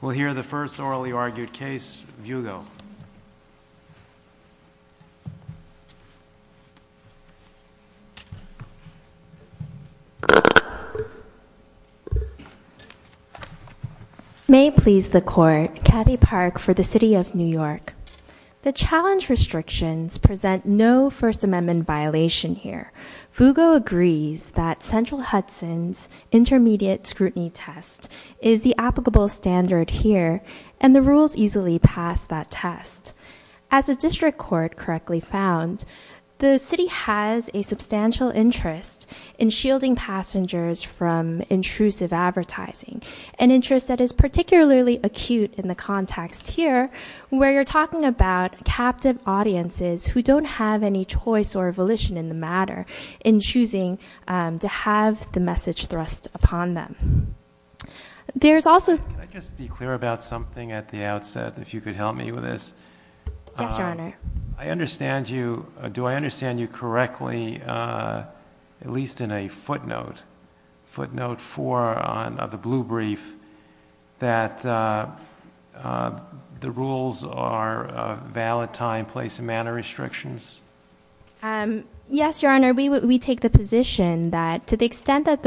We'll hear the first orally argued case, Vugo. May it please the Court, Kathy Park for the City of New York. The challenge restrictions present no First Amendment violation here. Vugo agrees that Central Standard here, and the rules easily pass that test. As a district court correctly found, the City has a substantial interest in shielding passengers from intrusive advertising, an interest that is particularly acute in the context here, where you're talking about captive audiences who don't have any choice or volition in the matter in choosing to have the message thrust upon them. There's also... Can I just be clear about something at the outset, if you could help me with this? Yes, Your Honor. I understand you, do I understand you correctly, at least in a footnote, footnote four on the blue brief, that the rules are a valid time, place, and manner restrictions? Yes, Your Honor, we take the position that to the extent that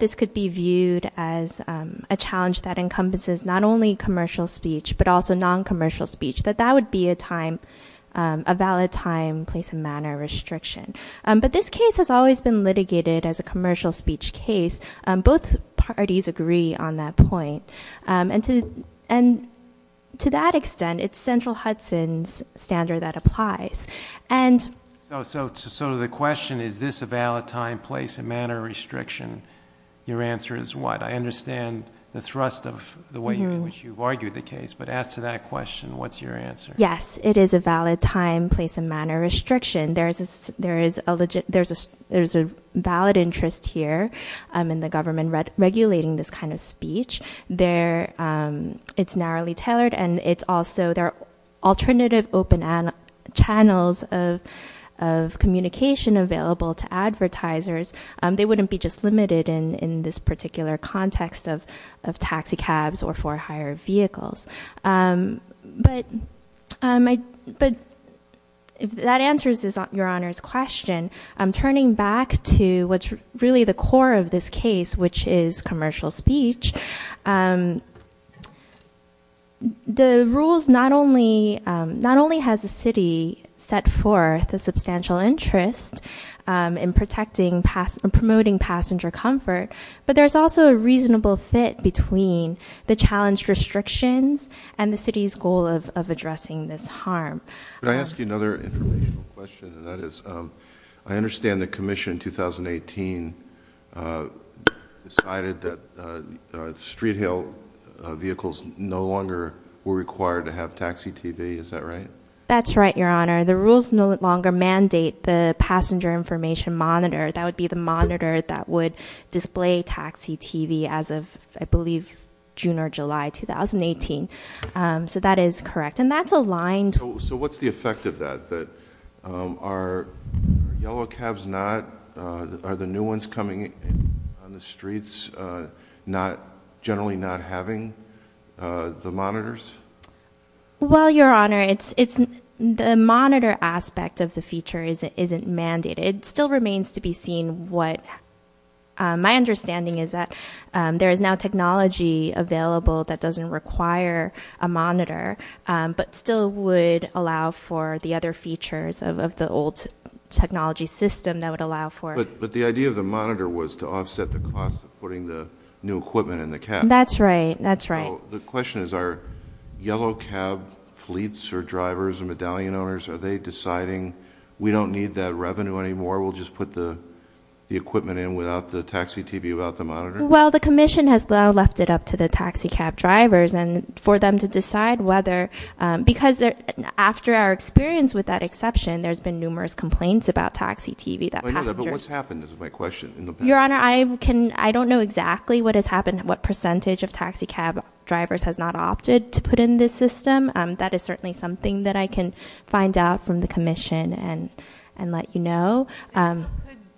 this could be viewed as a challenge that encompasses not only commercial speech, but also non-commercial speech, that that would be a time, a valid time, place, and manner restriction. But this case has always been litigated as a commercial speech case. Both parties agree on that point. And to that extent, it's Central Hudson's standard that applies. So the question, is this a valid time, place, and manner restriction? Your answer is what? I understand the thrust of the way in which you've argued the case, but as to that question, what's your answer? Yes, it is a valid time, place, and manner restriction. There's a valid interest here in the government regulating this kind of speech. It's narrowly tailored, and it's also, there are alternative open channels of communication available to advertisers. They wouldn't be just limited in this particular context of taxicabs or for hire vehicles. But if that answers Your Honor's question, I'm turning back to what's really the core of this case, which is the rules not only has the city set forth a substantial interest in protecting and promoting passenger comfort, but there's also a reasonable fit between the challenged restrictions and the city's goal of addressing this harm. Can I ask you another informational question, and that is, I understand the required to have taxi TV, is that right? That's right, Your Honor. The rules no longer mandate the passenger information monitor. That would be the monitor that would display taxi TV as of, I believe, June or July 2018. So that is correct, and that's aligned... So what's the effect of that? Are yellow cabs not, are the new cabs not having the monitors? Well, Your Honor, it's, the monitor aspect of the feature isn't mandated. It still remains to be seen what... My understanding is that there is now technology available that doesn't require a monitor, but still would allow for the other features of the old technology system that would allow for... But the idea of the monitor was to offset the cost of putting the new That's right. The question is, are yellow cab fleets or drivers or medallion owners, are they deciding, we don't need that revenue anymore, we'll just put the the equipment in without the taxi TV, without the monitor? Well, the Commission has left it up to the taxi cab drivers and for them to decide whether... because after our experience with that exception, there's been numerous complaints about taxi TV. But what's happened is my question. Your Honor, I can, I don't know exactly what has happened, what percentage of taxi cab drivers has not opted to put in this system. That is certainly something that I can find out from the Commission and let you know.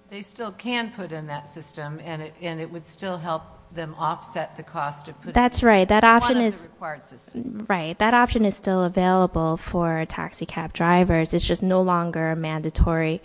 They still can put in that system and it would still help them offset the cost of putting it in. That's right, that option is... One of the required systems. Right, that option is still available for taxi cab drivers. It's just no longer a mandatory,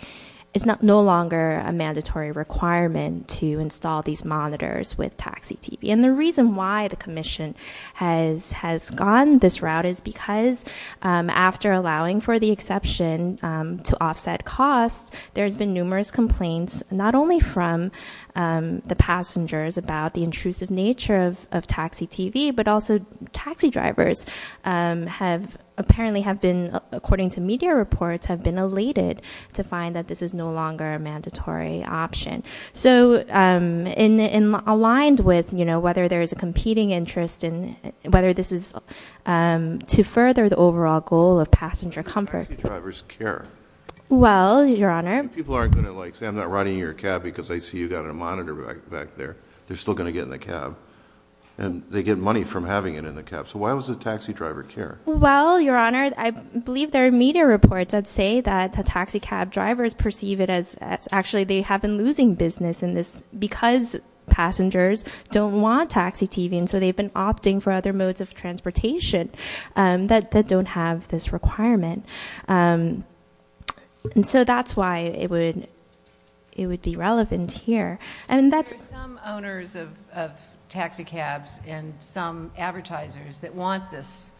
it's no longer a mandatory requirement to install these monitors with taxi TV. And the reason why the Commission has, has gone this route is because after allowing for the exception to offset costs, there's been numerous complaints, not only from the passengers about the intrusive nature of taxi TV, but also taxi drivers have apparently have been, according to media reports, have been elated to find that this is no longer a mandatory option. So aligned with, you know, whether there is a competing interest and whether this is to further the overall goal of passenger comfort. Why do taxi drivers care? Well, Your Honor... People aren't going to like, say I'm not riding in your cab because I see you've got a monitor back there. They're still going to get in the cab. And they get money from having it in the cab. So why does the taxi driver care? Well, Your Honor, I believe there are media reports that say that the taxi cab drivers perceive it as, actually they have been losing business in this system. Because passengers don't want taxi TV. And so they've been opting for other modes of transportation that don't have this requirement. And so that's why it would, it would be relevant here. And that's... There are some owners of taxi cabs and some advertisers that want this.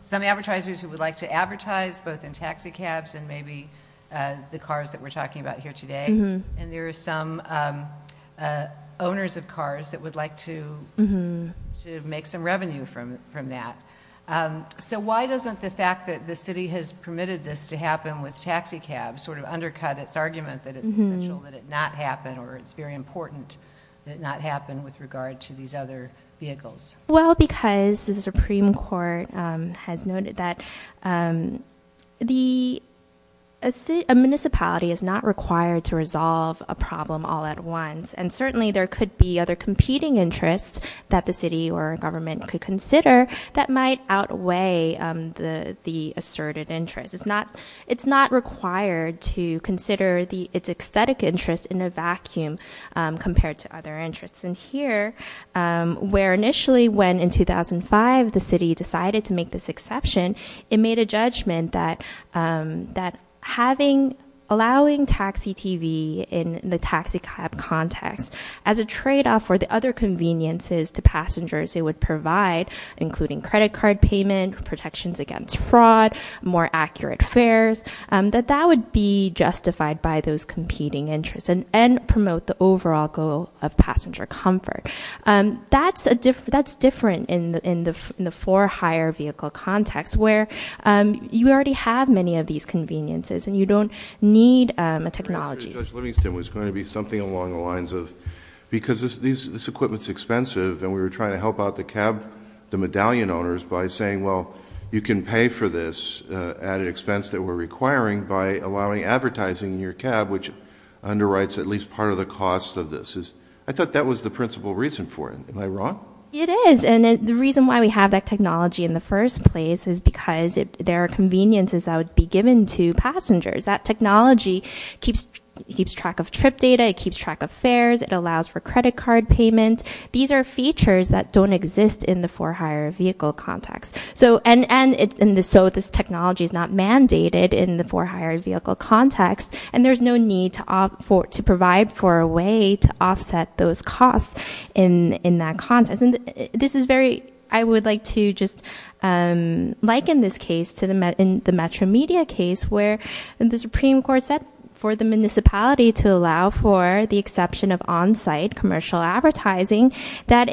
Some advertisers who would like to advertise both in taxi cabs and maybe the cars that we're talking about here today. And there are some owners of cars that would like to make some revenue from that. So why doesn't the fact that the city has permitted this to happen with taxi cabs sort of undercut its argument that it's essential that it not happen or it's very important that it not happen with regard to these other vehicles? Well, because the Supreme Court has noted that a municipality is not required to resolve a problem all at once. And certainly there could be other competing interests that the city or government could consider that might outweigh the asserted interest. It's not required to consider its aesthetic interest in a vacuum compared to other interests. And here, where initially when in 2005 the city decided to make this exception, it made a judgment that, that having, allowing taxi TV in the taxi cab context as a trade-off for the other conveniences to passengers it would provide, including credit card payment, protections against fraud, more accurate fares, that that would be justified by those competing interests and promote the overall goal of passenger cars. That's different in the for hire vehicle context where you already have many of these conveniences and you don't need a technology. I thought Judge Livingston was going to be something along the lines of, because this equipment's expensive and we were trying to help out the cab, the medallion owners by saying, well, you can pay for this at an expense that we're requiring by allowing advertising in your cab, which underwrites at least part of the cost of this. I thought that was the principal reason for it. Am I wrong? It is. And the reason why we have that technology in the first place is because there are conveniences that would be given to passengers. That technology keeps track of trip data. It keeps track of fares. It allows for credit card payment. These are features that don't exist in the for hire vehicle context. And so this technology is not mandated in the for hire vehicle context and there's no need to provide for a way to offset those costs in that context. This is very, I would like to just liken this case to the Metro Media case where the Supreme Court said for the municipality to allow for the exception of on-site commercial advertising. That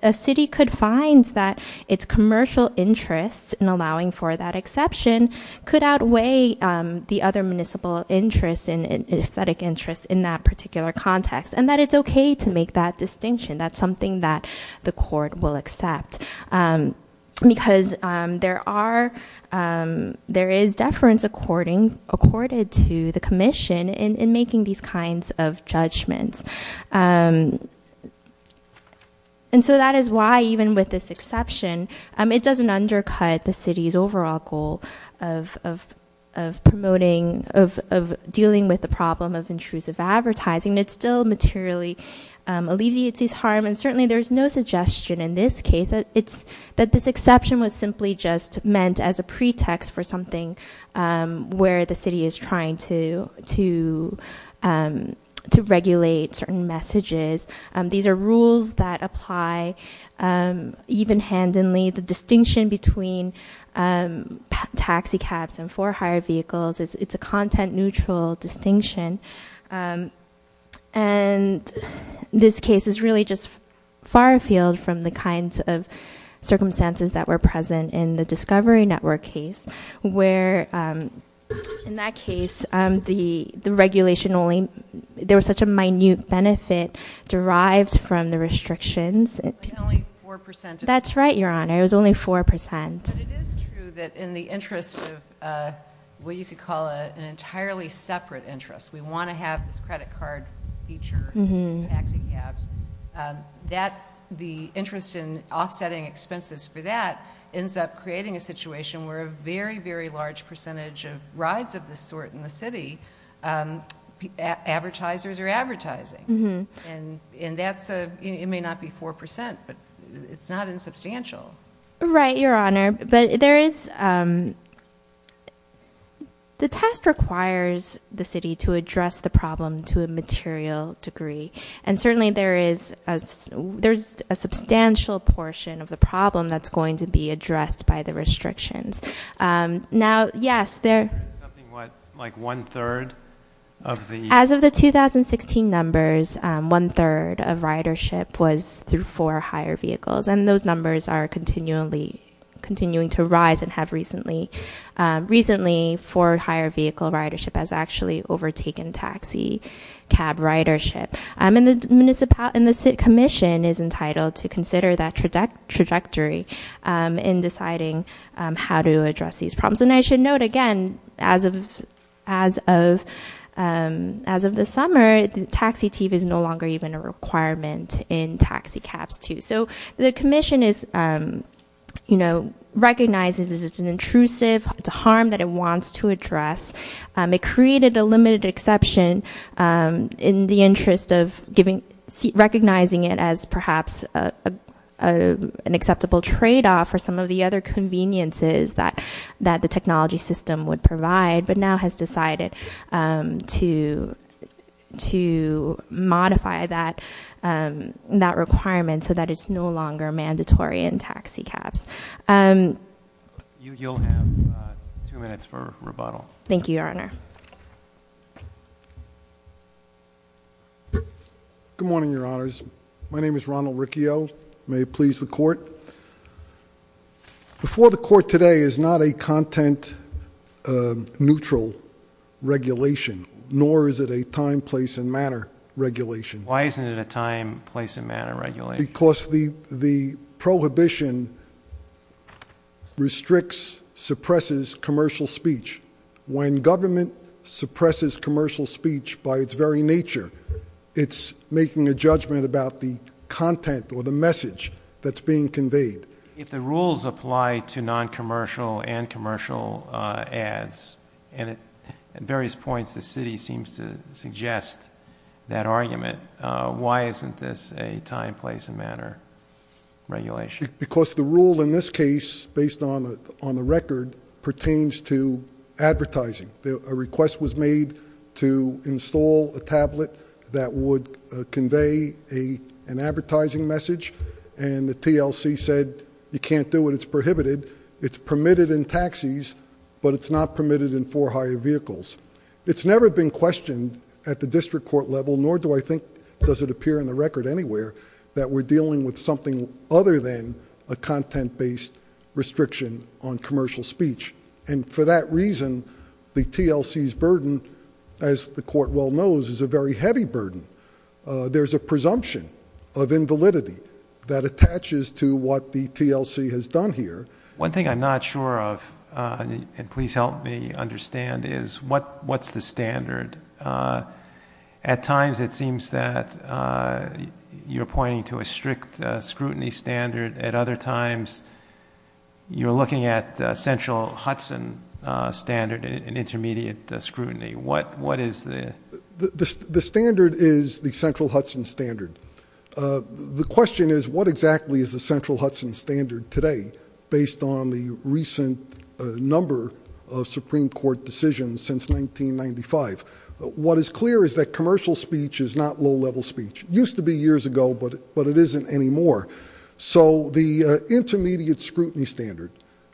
a city could find that its commercial interests in allowing for that exception could outweigh the other municipal interests and aesthetic interests in that particular context. And that it's okay to make that distinction. That's something that the court will accept because there is deference according to the commission in making these kinds of judgments. And so that is why even with this exception, it doesn't undercut the city's overall goal of promoting, of dealing with the problem of intrusive advertising. It's still materially alleviates its harm and certainly there's no suggestion in this case that this exception was simply just meant as a pretext for something where the city is trying to regulate certain messages. These are rules that apply even handedly. The distinction between taxi cabs and for hire vehicles, it's a content neutral distinction. And this case is really just far afield from the kinds of circumstances that were present in the Discovery Network case. Where in that case, the regulation only, there was such a minute benefit derived from the restrictions. That's right, your honor. It was only 4%. But it is true that in the interest of what you could call an entirely separate interest, we want to have this credit card feature in taxi cabs. The interest in offsetting expenses for that ends up creating a situation where a very, very large percentage of rides of this sort in the city, advertisers are advertising. And that's, it may not be 4%, but it's not insubstantial. Right, your honor. But there is, the test requires the city to address the problem to a material degree. And certainly there is, there's a substantial portion of the problem that's going to be addressed by the restrictions. Now, yes, there- Is it something like one third of the- As of the 2016 numbers, one third of ridership was through for hire vehicles. And those numbers are continually, continuing to rise and have recently, recently for hire vehicle ridership has actually overtaken taxi cab ridership. And the municipality, and the city commission is entitled to consider that trajectory in deciding how to address these problems. And I should note again, as of, as of, as of this summer, the taxi tip is no longer even a requirement in taxi cabs too. So the commission is, you know, recognizes it's an intrusive, it's a harm that it wants to address. It created a limited exception in the interest of giving, recognizing it as perhaps an acceptable trade off for some of the other conveniences that, that the technology system would provide but now has decided to, to modify that, that requirement so that it's no longer mandatory in taxi cabs. You'll have two minutes for rebuttal. Thank you, your honor. Good morning, your honors. My name is Ronald Riccio. May it please the court. Before the court today is not a content neutral regulation, nor is it a time, place, and manner regulation. Why isn't it a time, place, and manner regulation? Because the, the prohibition restricts, suppresses commercial speech. When government suppresses commercial speech by its very nature, it's making a judgment about the content or the message that's being conveyed. If the rules apply to non-commercial and commercial ads, and at various points the city seems to suggest that argument, why isn't this a time, place, and manner regulation? Because the rule in this case, based on the record, pertains to advertising. A request was made to install a tablet that would convey an advertising message, and the TLC said you can't do it, it's prohibited. It's permitted in taxis, but it's not permitted in four-hire vehicles. It's never been questioned at the district court level, nor do I think, does it appear in the record anywhere, that we're dealing with something other than a content-based restriction on commercial speech. And for that reason, the TLC's burden, as the court well knows, is a very heavy burden. There's a presumption of invalidity that attaches to what the TLC has done here. One thing I'm not sure of, and please help me understand, is what's the standard? At times it seems that you're pointing to a strict scrutiny standard. At other times you're looking at a central Hudson standard, an intermediate scrutiny. What is the standard? The standard is the central Hudson standard. The question is, what exactly is the central Hudson standard today, based on the recent number of Supreme Court decisions since 1995? What is clear is that commercial speech is not low-level speech. It used to be years ago, but it isn't anymore. So the intermediate scrutiny standard,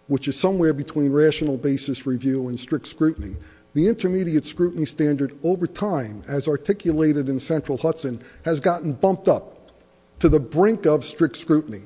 which is somewhere between rational basis review and strict scrutiny, the intermediate scrutiny standard, over time, as articulated in central Hudson, has gotten bumped up to the brink of strict scrutiny.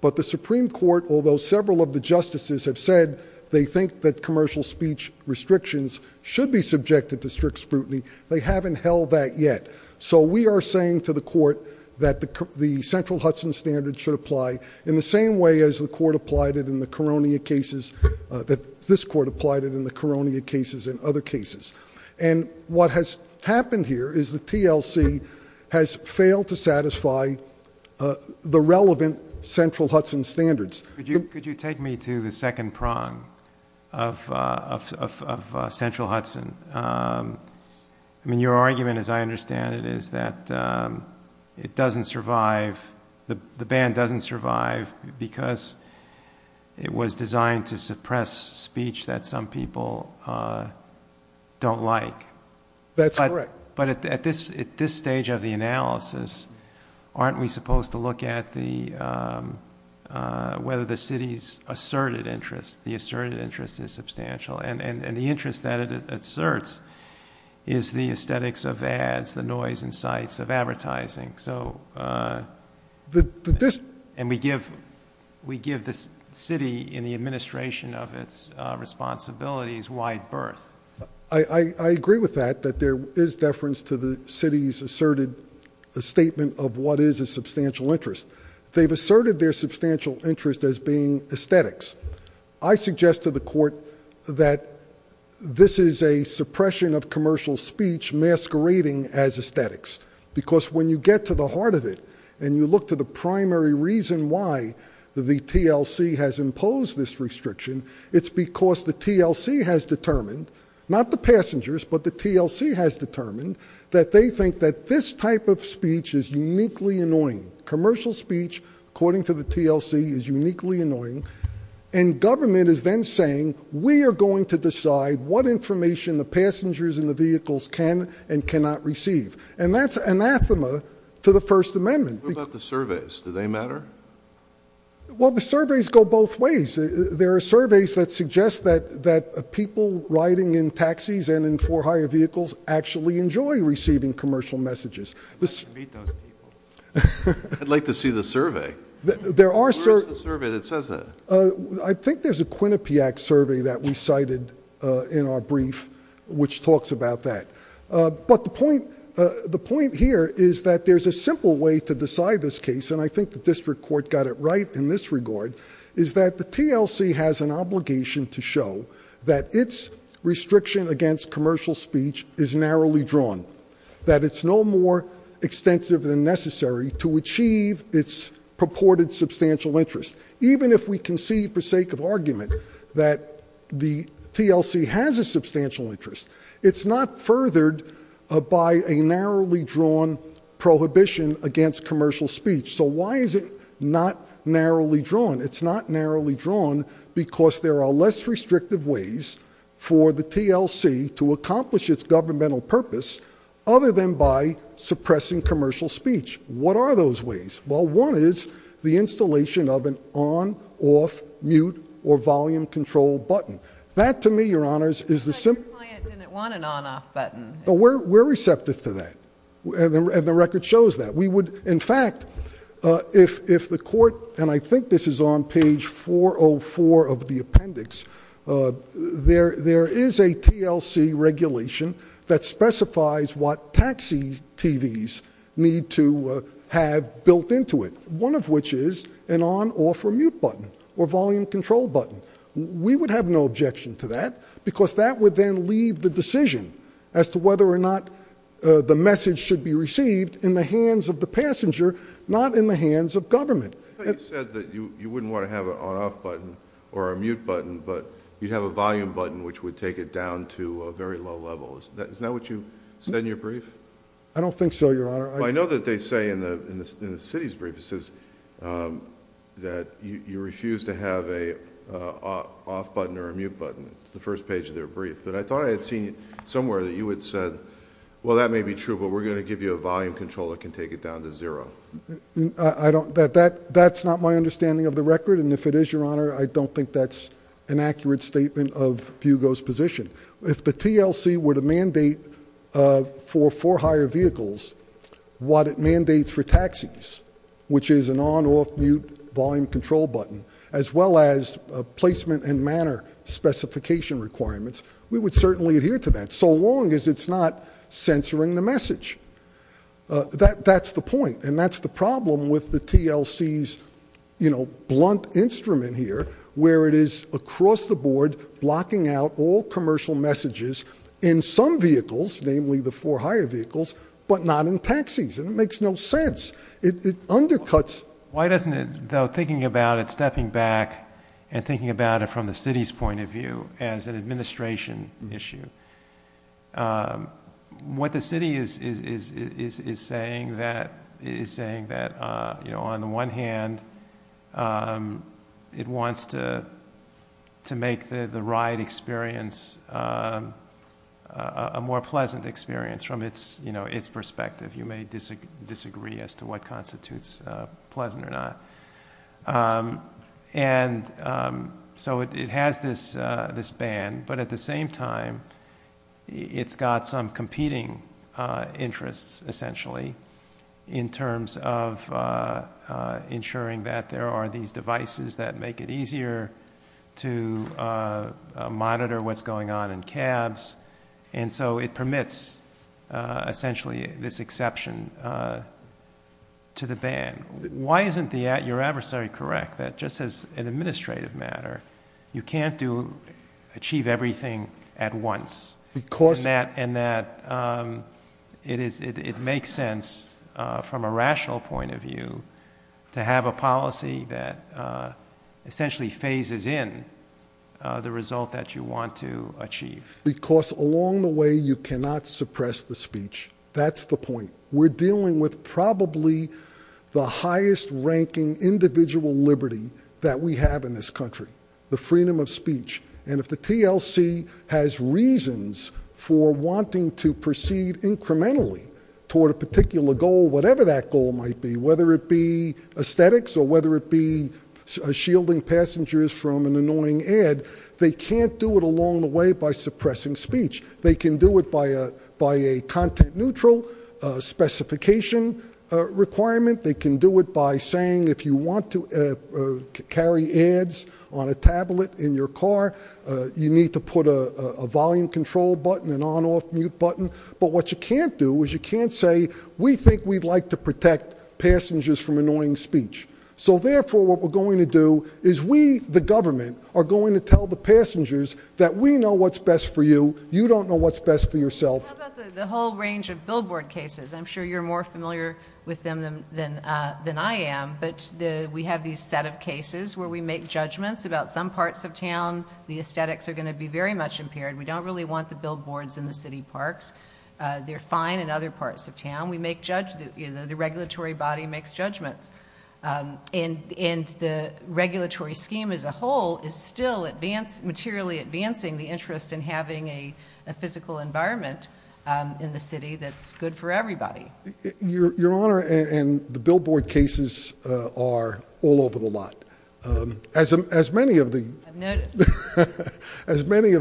But the Supreme Court, although several of the justices have said they think that commercial speech restrictions should be subjected to strict scrutiny, they haven't held that yet. So we are saying to the court that the central Hudson standard should apply in the same way as the court applied it in the Koronia cases, that this court applied it in the Koronia cases and other cases. And what has happened here is the TLC has failed to satisfy the relevant central Hudson standards. Could you take me to the second prong of central Hudson? I mean, your argument, as I understand it, is that it doesn't survive, the ban doesn't survive because it was designed to suppress speech that some people don't like. That's correct. But at this stage of the analysis, aren't we supposed to look at whether the city's asserted interest, the asserted interest is substantial, and the interest that it asserts is the aesthetics of ads, the noise and sights of advertising. And we give the city and the administration of its responsibilities wide berth. I agree with that, that there is deference to the city's asserted statement of what is a substantial interest. They've asserted their substantial interest as being aesthetics. I suggest to the court that this is a suppression of commercial speech masquerading as aesthetics. Because when you get to the heart of it, and you look to the primary reason why the TLC has imposed this restriction, it's because the TLC has determined, not the passengers, but the TLC has determined, that they think that this type of speech is uniquely annoying. Commercial speech, according to the TLC, is uniquely annoying. And government is then saying, we are going to decide what information the passengers in the vehicles can and cannot receive. And that's anathema to the First Amendment. What about the surveys? Do they matter? Well, the surveys go both ways. There are surveys that suggest that people riding in taxis and in for hire vehicles actually enjoy receiving commercial messages. I'd like to meet those people. I'd like to see the survey. Where is the survey that says that? I think there's a Quinnipiac survey that we cited in our brief which talks about that. But the point here is that there's a simple way to decide this case, and I think the district court got it right in this regard, is that the TLC has an obligation to show that its restriction against commercial speech is narrowly drawn. That it's no more extensive than necessary to achieve its purported substantial interest. Even if we can see, for sake of argument, that the TLC has a substantial interest, it's not furthered by a narrowly drawn prohibition against commercial speech. It's not narrowly drawn because there are less restrictive ways for the TLC to accomplish its governmental purpose other than by suppressing commercial speech. What are those ways? Well, one is the installation of an on, off, mute, or volume control button. That, to me, Your Honors, is the simple... But your client didn't want an on-off button. We're receptive to that. And the record shows that. We would, in fact, if the court, and I think this is on page 404 of the appendix, there is a TLC regulation that specifies what taxi TVs need to have built into it. One of which is an on, off, or mute button, or volume control button. We would have no objection to that because that would then leave the decision as to whether or not the message should be received in the hands of the passenger, not in the hands of government. I thought you said that you wouldn't want to have an on-off button or a mute button, but you'd have a volume button, which would take it down to a very low level. Isn't that what you said in your brief? I don't think so, Your Honor. I know that they say in the city's brief that you refuse to have an off button or a mute button. It's the first page of their brief. But I thought I had seen somewhere that you had said, well, that may be true, but we're going to give you a volume control that can take it down to zero. That's not my understanding of the record, and if it is, Your Honor, I don't think that's an accurate statement of Fugo's position. If the TLC were to mandate for four hire vehicles what it mandates for taxis, which is an on, off, mute, volume control button, as well as placement and manner specification requirements, we would certainly adhere to that, so long as it's not censoring the message. That's the point, and that's the problem with the TLC's blunt instrument here, where it is across the board blocking out all commercial messages in some vehicles, namely the four hire vehicles, but not in taxis, and it makes no sense. It undercuts. Why doesn't it, though, thinking about it, stepping back and thinking about it from the city's point of view as an administration issue, what the city is saying is that on the one hand, it wants to make the ride experience a more pleasant experience from its perspective. You may disagree as to what constitutes pleasant or not. So it has this ban, but at the same time, it's got some competing interests, essentially, in terms of ensuring that there are these devices that make it easier to monitor what's going on in cabs, and so it permits, essentially, this exception to the ban. Why isn't your adversary correct that just as an administrative matter, you can't achieve everything at once, and that it makes sense from a rational point of view to have a policy that essentially phases in the result that you want to achieve? Because along the way, you cannot suppress the speech. That's the point. We're dealing with probably the highest-ranking individual liberty that we have in this country, the freedom of speech, and if the TLC has reasons for wanting to proceed incrementally toward a particular goal, whatever that goal might be, whether it be aesthetics or whether it be shielding passengers from an annoying ad, they can't do it along the way by suppressing speech. They can do it by a content-neutral specification requirement. They can do it by saying if you want to carry ads on a tablet in your car, you need to put a volume control button, an on-off mute button, but what you can't do is you can't say, we think we'd like to protect passengers from annoying speech. So, therefore, what we're going to do is we, the government, are going to tell the passengers that we know what's best for you. You don't know what's best for yourself. How about the whole range of billboard cases? I'm sure you're more familiar with them than I am, but we have these set of cases where we make judgments about some parts of town. The aesthetics are going to be very much impaired. We don't really want the billboards in the city parks. They're fine in other parts of town. The regulatory body makes judgments, and the regulatory scheme as a whole is still materially advancing the interest in having a physical environment in the city that's good for everybody. Your Honor, and the billboard cases are all over the lot. I've noticed. As many of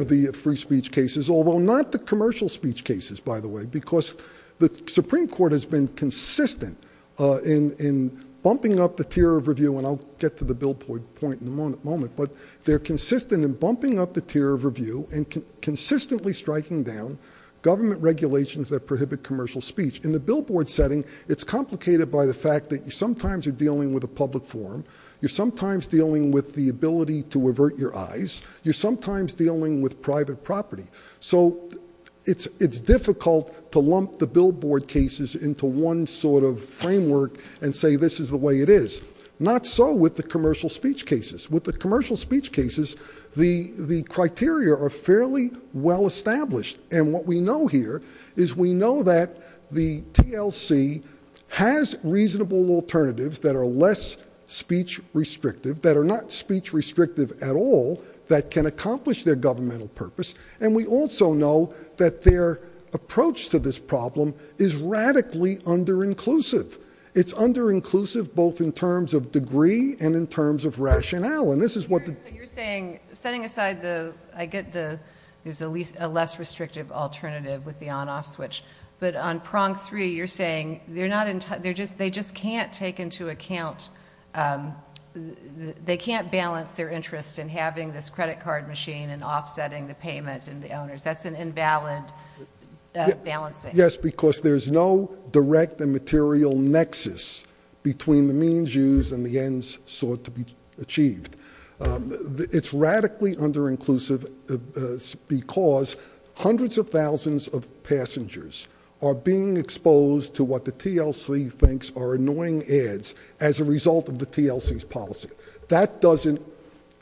the free speech cases, although not the commercial speech cases, by the way, because the Supreme Court has been consistent in bumping up the tier of review, and I'll get to the billboard point in a moment, but they're consistent in bumping up the tier of review and consistently striking down government regulations that prohibit commercial speech. In the billboard setting, it's complicated by the fact that sometimes you're dealing with a public forum. You're sometimes dealing with the ability to avert your eyes. You're sometimes dealing with private property. So it's difficult to lump the billboard cases into one sort of framework and say this is the way it is. Not so with the commercial speech cases. With the commercial speech cases, the criteria are fairly well established, and what we know here is we know that the TLC has reasonable alternatives that are less speech restrictive, that are not speech restrictive at all, that can accomplish their governmental purpose, and we also know that their approach to this problem is radically under-inclusive. It's under-inclusive both in terms of degree and in terms of rationale, and this is what the ---- So you're saying, setting aside the, I get the, there's a less restrictive alternative with the on-off switch, but on prong three, you're saying they're not, they just can't take into account, they can't balance their interest in having this credit card machine and offsetting the payment and the owners. That's an invalid balancing. Yes, because there's no direct and material nexus between the means used and the ends sought to be achieved. It's radically under-inclusive because hundreds of thousands of passengers are being exposed to what the TLC thinks are annoying ads as a result of the TLC's policy. That doesn't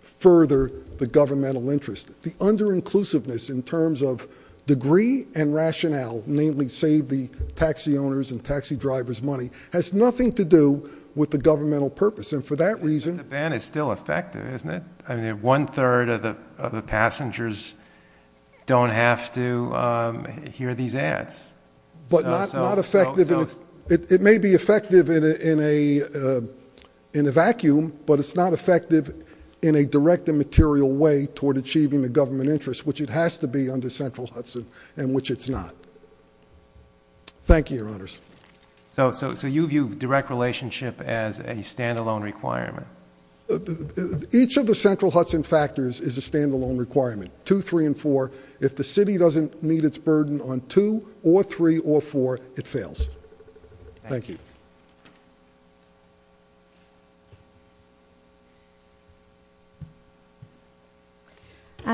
further the governmental interest. The under-inclusiveness in terms of degree and rationale, namely save the taxi owners' and taxi drivers' money, has nothing to do with the governmental purpose, and for that reason ---- The ban is still effective, isn't it? One-third of the passengers don't have to hear these ads. But not effective in a, it may be effective in a vacuum, but it's not effective in a direct and material way toward achieving the government interest, which it has to be under Central Hudson, and which it's not. Thank you, Your Honors. So you view direct relationship as a stand-alone requirement? Each of the Central Hudson factors is a stand-alone requirement. Two, three, and four. If the city doesn't meet its burden on two or three or four, it fails. Thank you.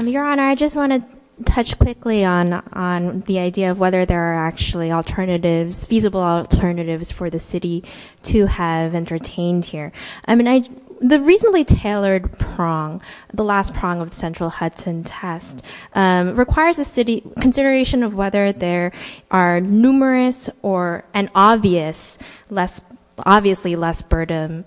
Your Honor, I just want to touch quickly on the idea of whether there are actually alternatives, feasible alternatives for the city to have entertained here. I mean, the reasonably tailored prong, the last prong of the Central Hudson test, requires a city consideration of whether there are numerous or an obvious, obviously less burden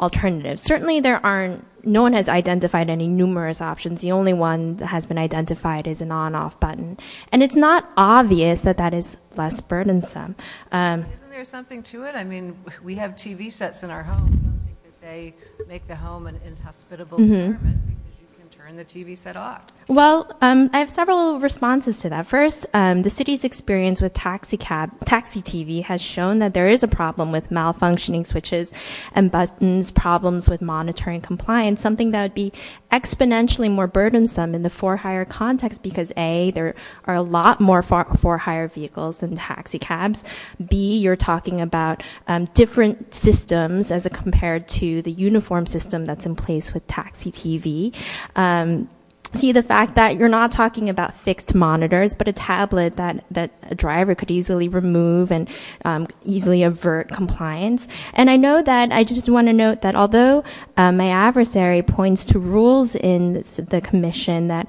alternative. Certainly there aren't, no one has identified any numerous options. The only one that has been identified is an on-off button. And it's not obvious that that is less burdensome. Isn't there something to it? I mean, we have TV sets in our homes. I don't think that they make the home an inhospitable environment because you can turn the TV set off. Well, I have several responses to that. First, the city's experience with taxi TV has shown that there is a problem with malfunctioning switches and buttons, problems with monitoring compliance, something that would be exponentially more burdensome in the for hire context because, A, there are a lot more for hire vehicles than taxi cabs. B, you're talking about different systems as compared to the uniform system that's in place with taxi TV. C, the fact that you're not talking about fixed monitors, but a tablet that a driver could easily remove and easily avert compliance. And I know that I just want to note that although my adversary points to rules in the commission that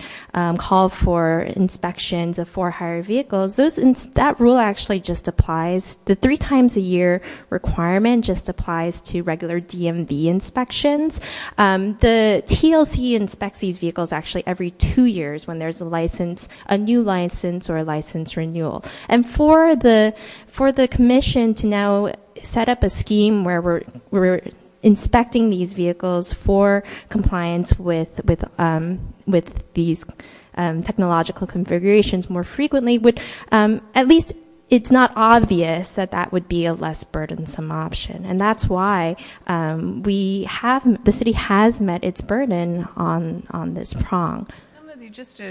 call for inspections of for hire vehicles, that rule actually just applies. The three times a year requirement just applies to regular DMV inspections. The TLC inspects these vehicles actually every two years when there's a license, a new license or a license renewal. And for the commission to now set up a scheme where we're inspecting these vehicles for compliance with these technological configurations more frequently, at least it's not obvious that that would be a less burdensome option. And that's why the city has met its burden on this prong. Just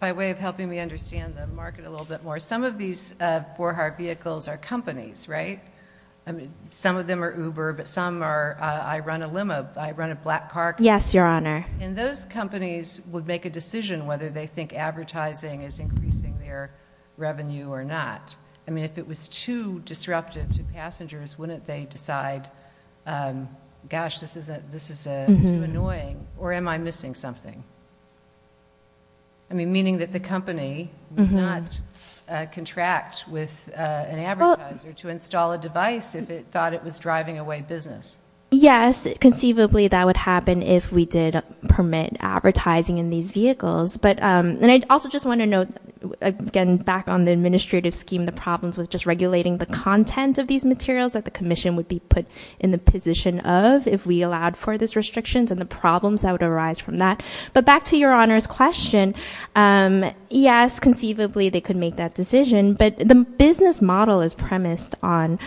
by way of helping me understand the market a little bit more, some of these for hire vehicles are companies, right? Some of them are Uber, but some are I run a limo, I run a black car company. Yes, Your Honor. And those companies would make a decision whether they think advertising is increasing their revenue or not. I mean, if it was too disruptive to passengers, wouldn't they decide, gosh, this is too annoying, or am I missing something? I mean, meaning that the company would not contract with an advertiser to install a device if it thought it was driving away business. Yes, conceivably, that would happen if we did permit advertising in these vehicles. But I also just want to note, again, back on the administrative scheme, the problems with just regulating the content of these materials that the commission would be put in the position of if we allowed for these restrictions and the problems that would arise from that. But back to Your Honor's question. Yes, conceivably, they could make that decision. But the business model is premised on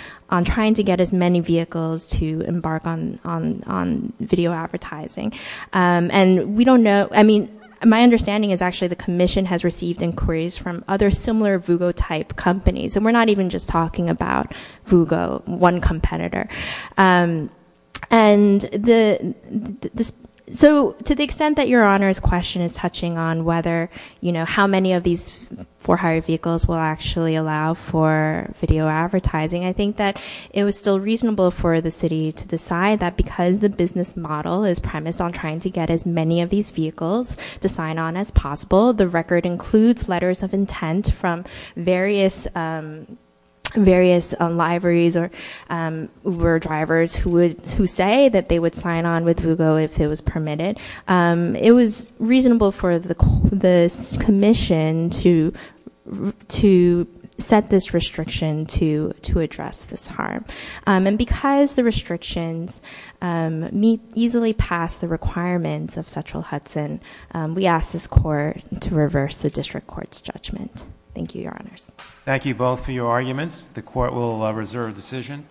trying to get as many vehicles to embark on video advertising. And we don't know, I mean, my understanding is actually the commission has received inquiries from other similar Vugo-type companies. And we're not even just talking about Vugo, one competitor. And so to the extent that Your Honor's question is touching on whether, you know, how many of these four-hire vehicles will actually allow for video advertising, I think that it was still reasonable for the city to decide that because the business model is premised on trying to get as many of these vehicles to sign on as possible, the record includes letters of intent from various libraries or drivers who say that they would sign on with Vugo if it was permitted. It was reasonable for the commission to set this restriction to address this harm. And because the restrictions easily pass the requirements of Central Hudson, we ask this court to reverse the district court's judgment. Thank you, Your Honors. Thank you both for your arguments. The court will reserve decision.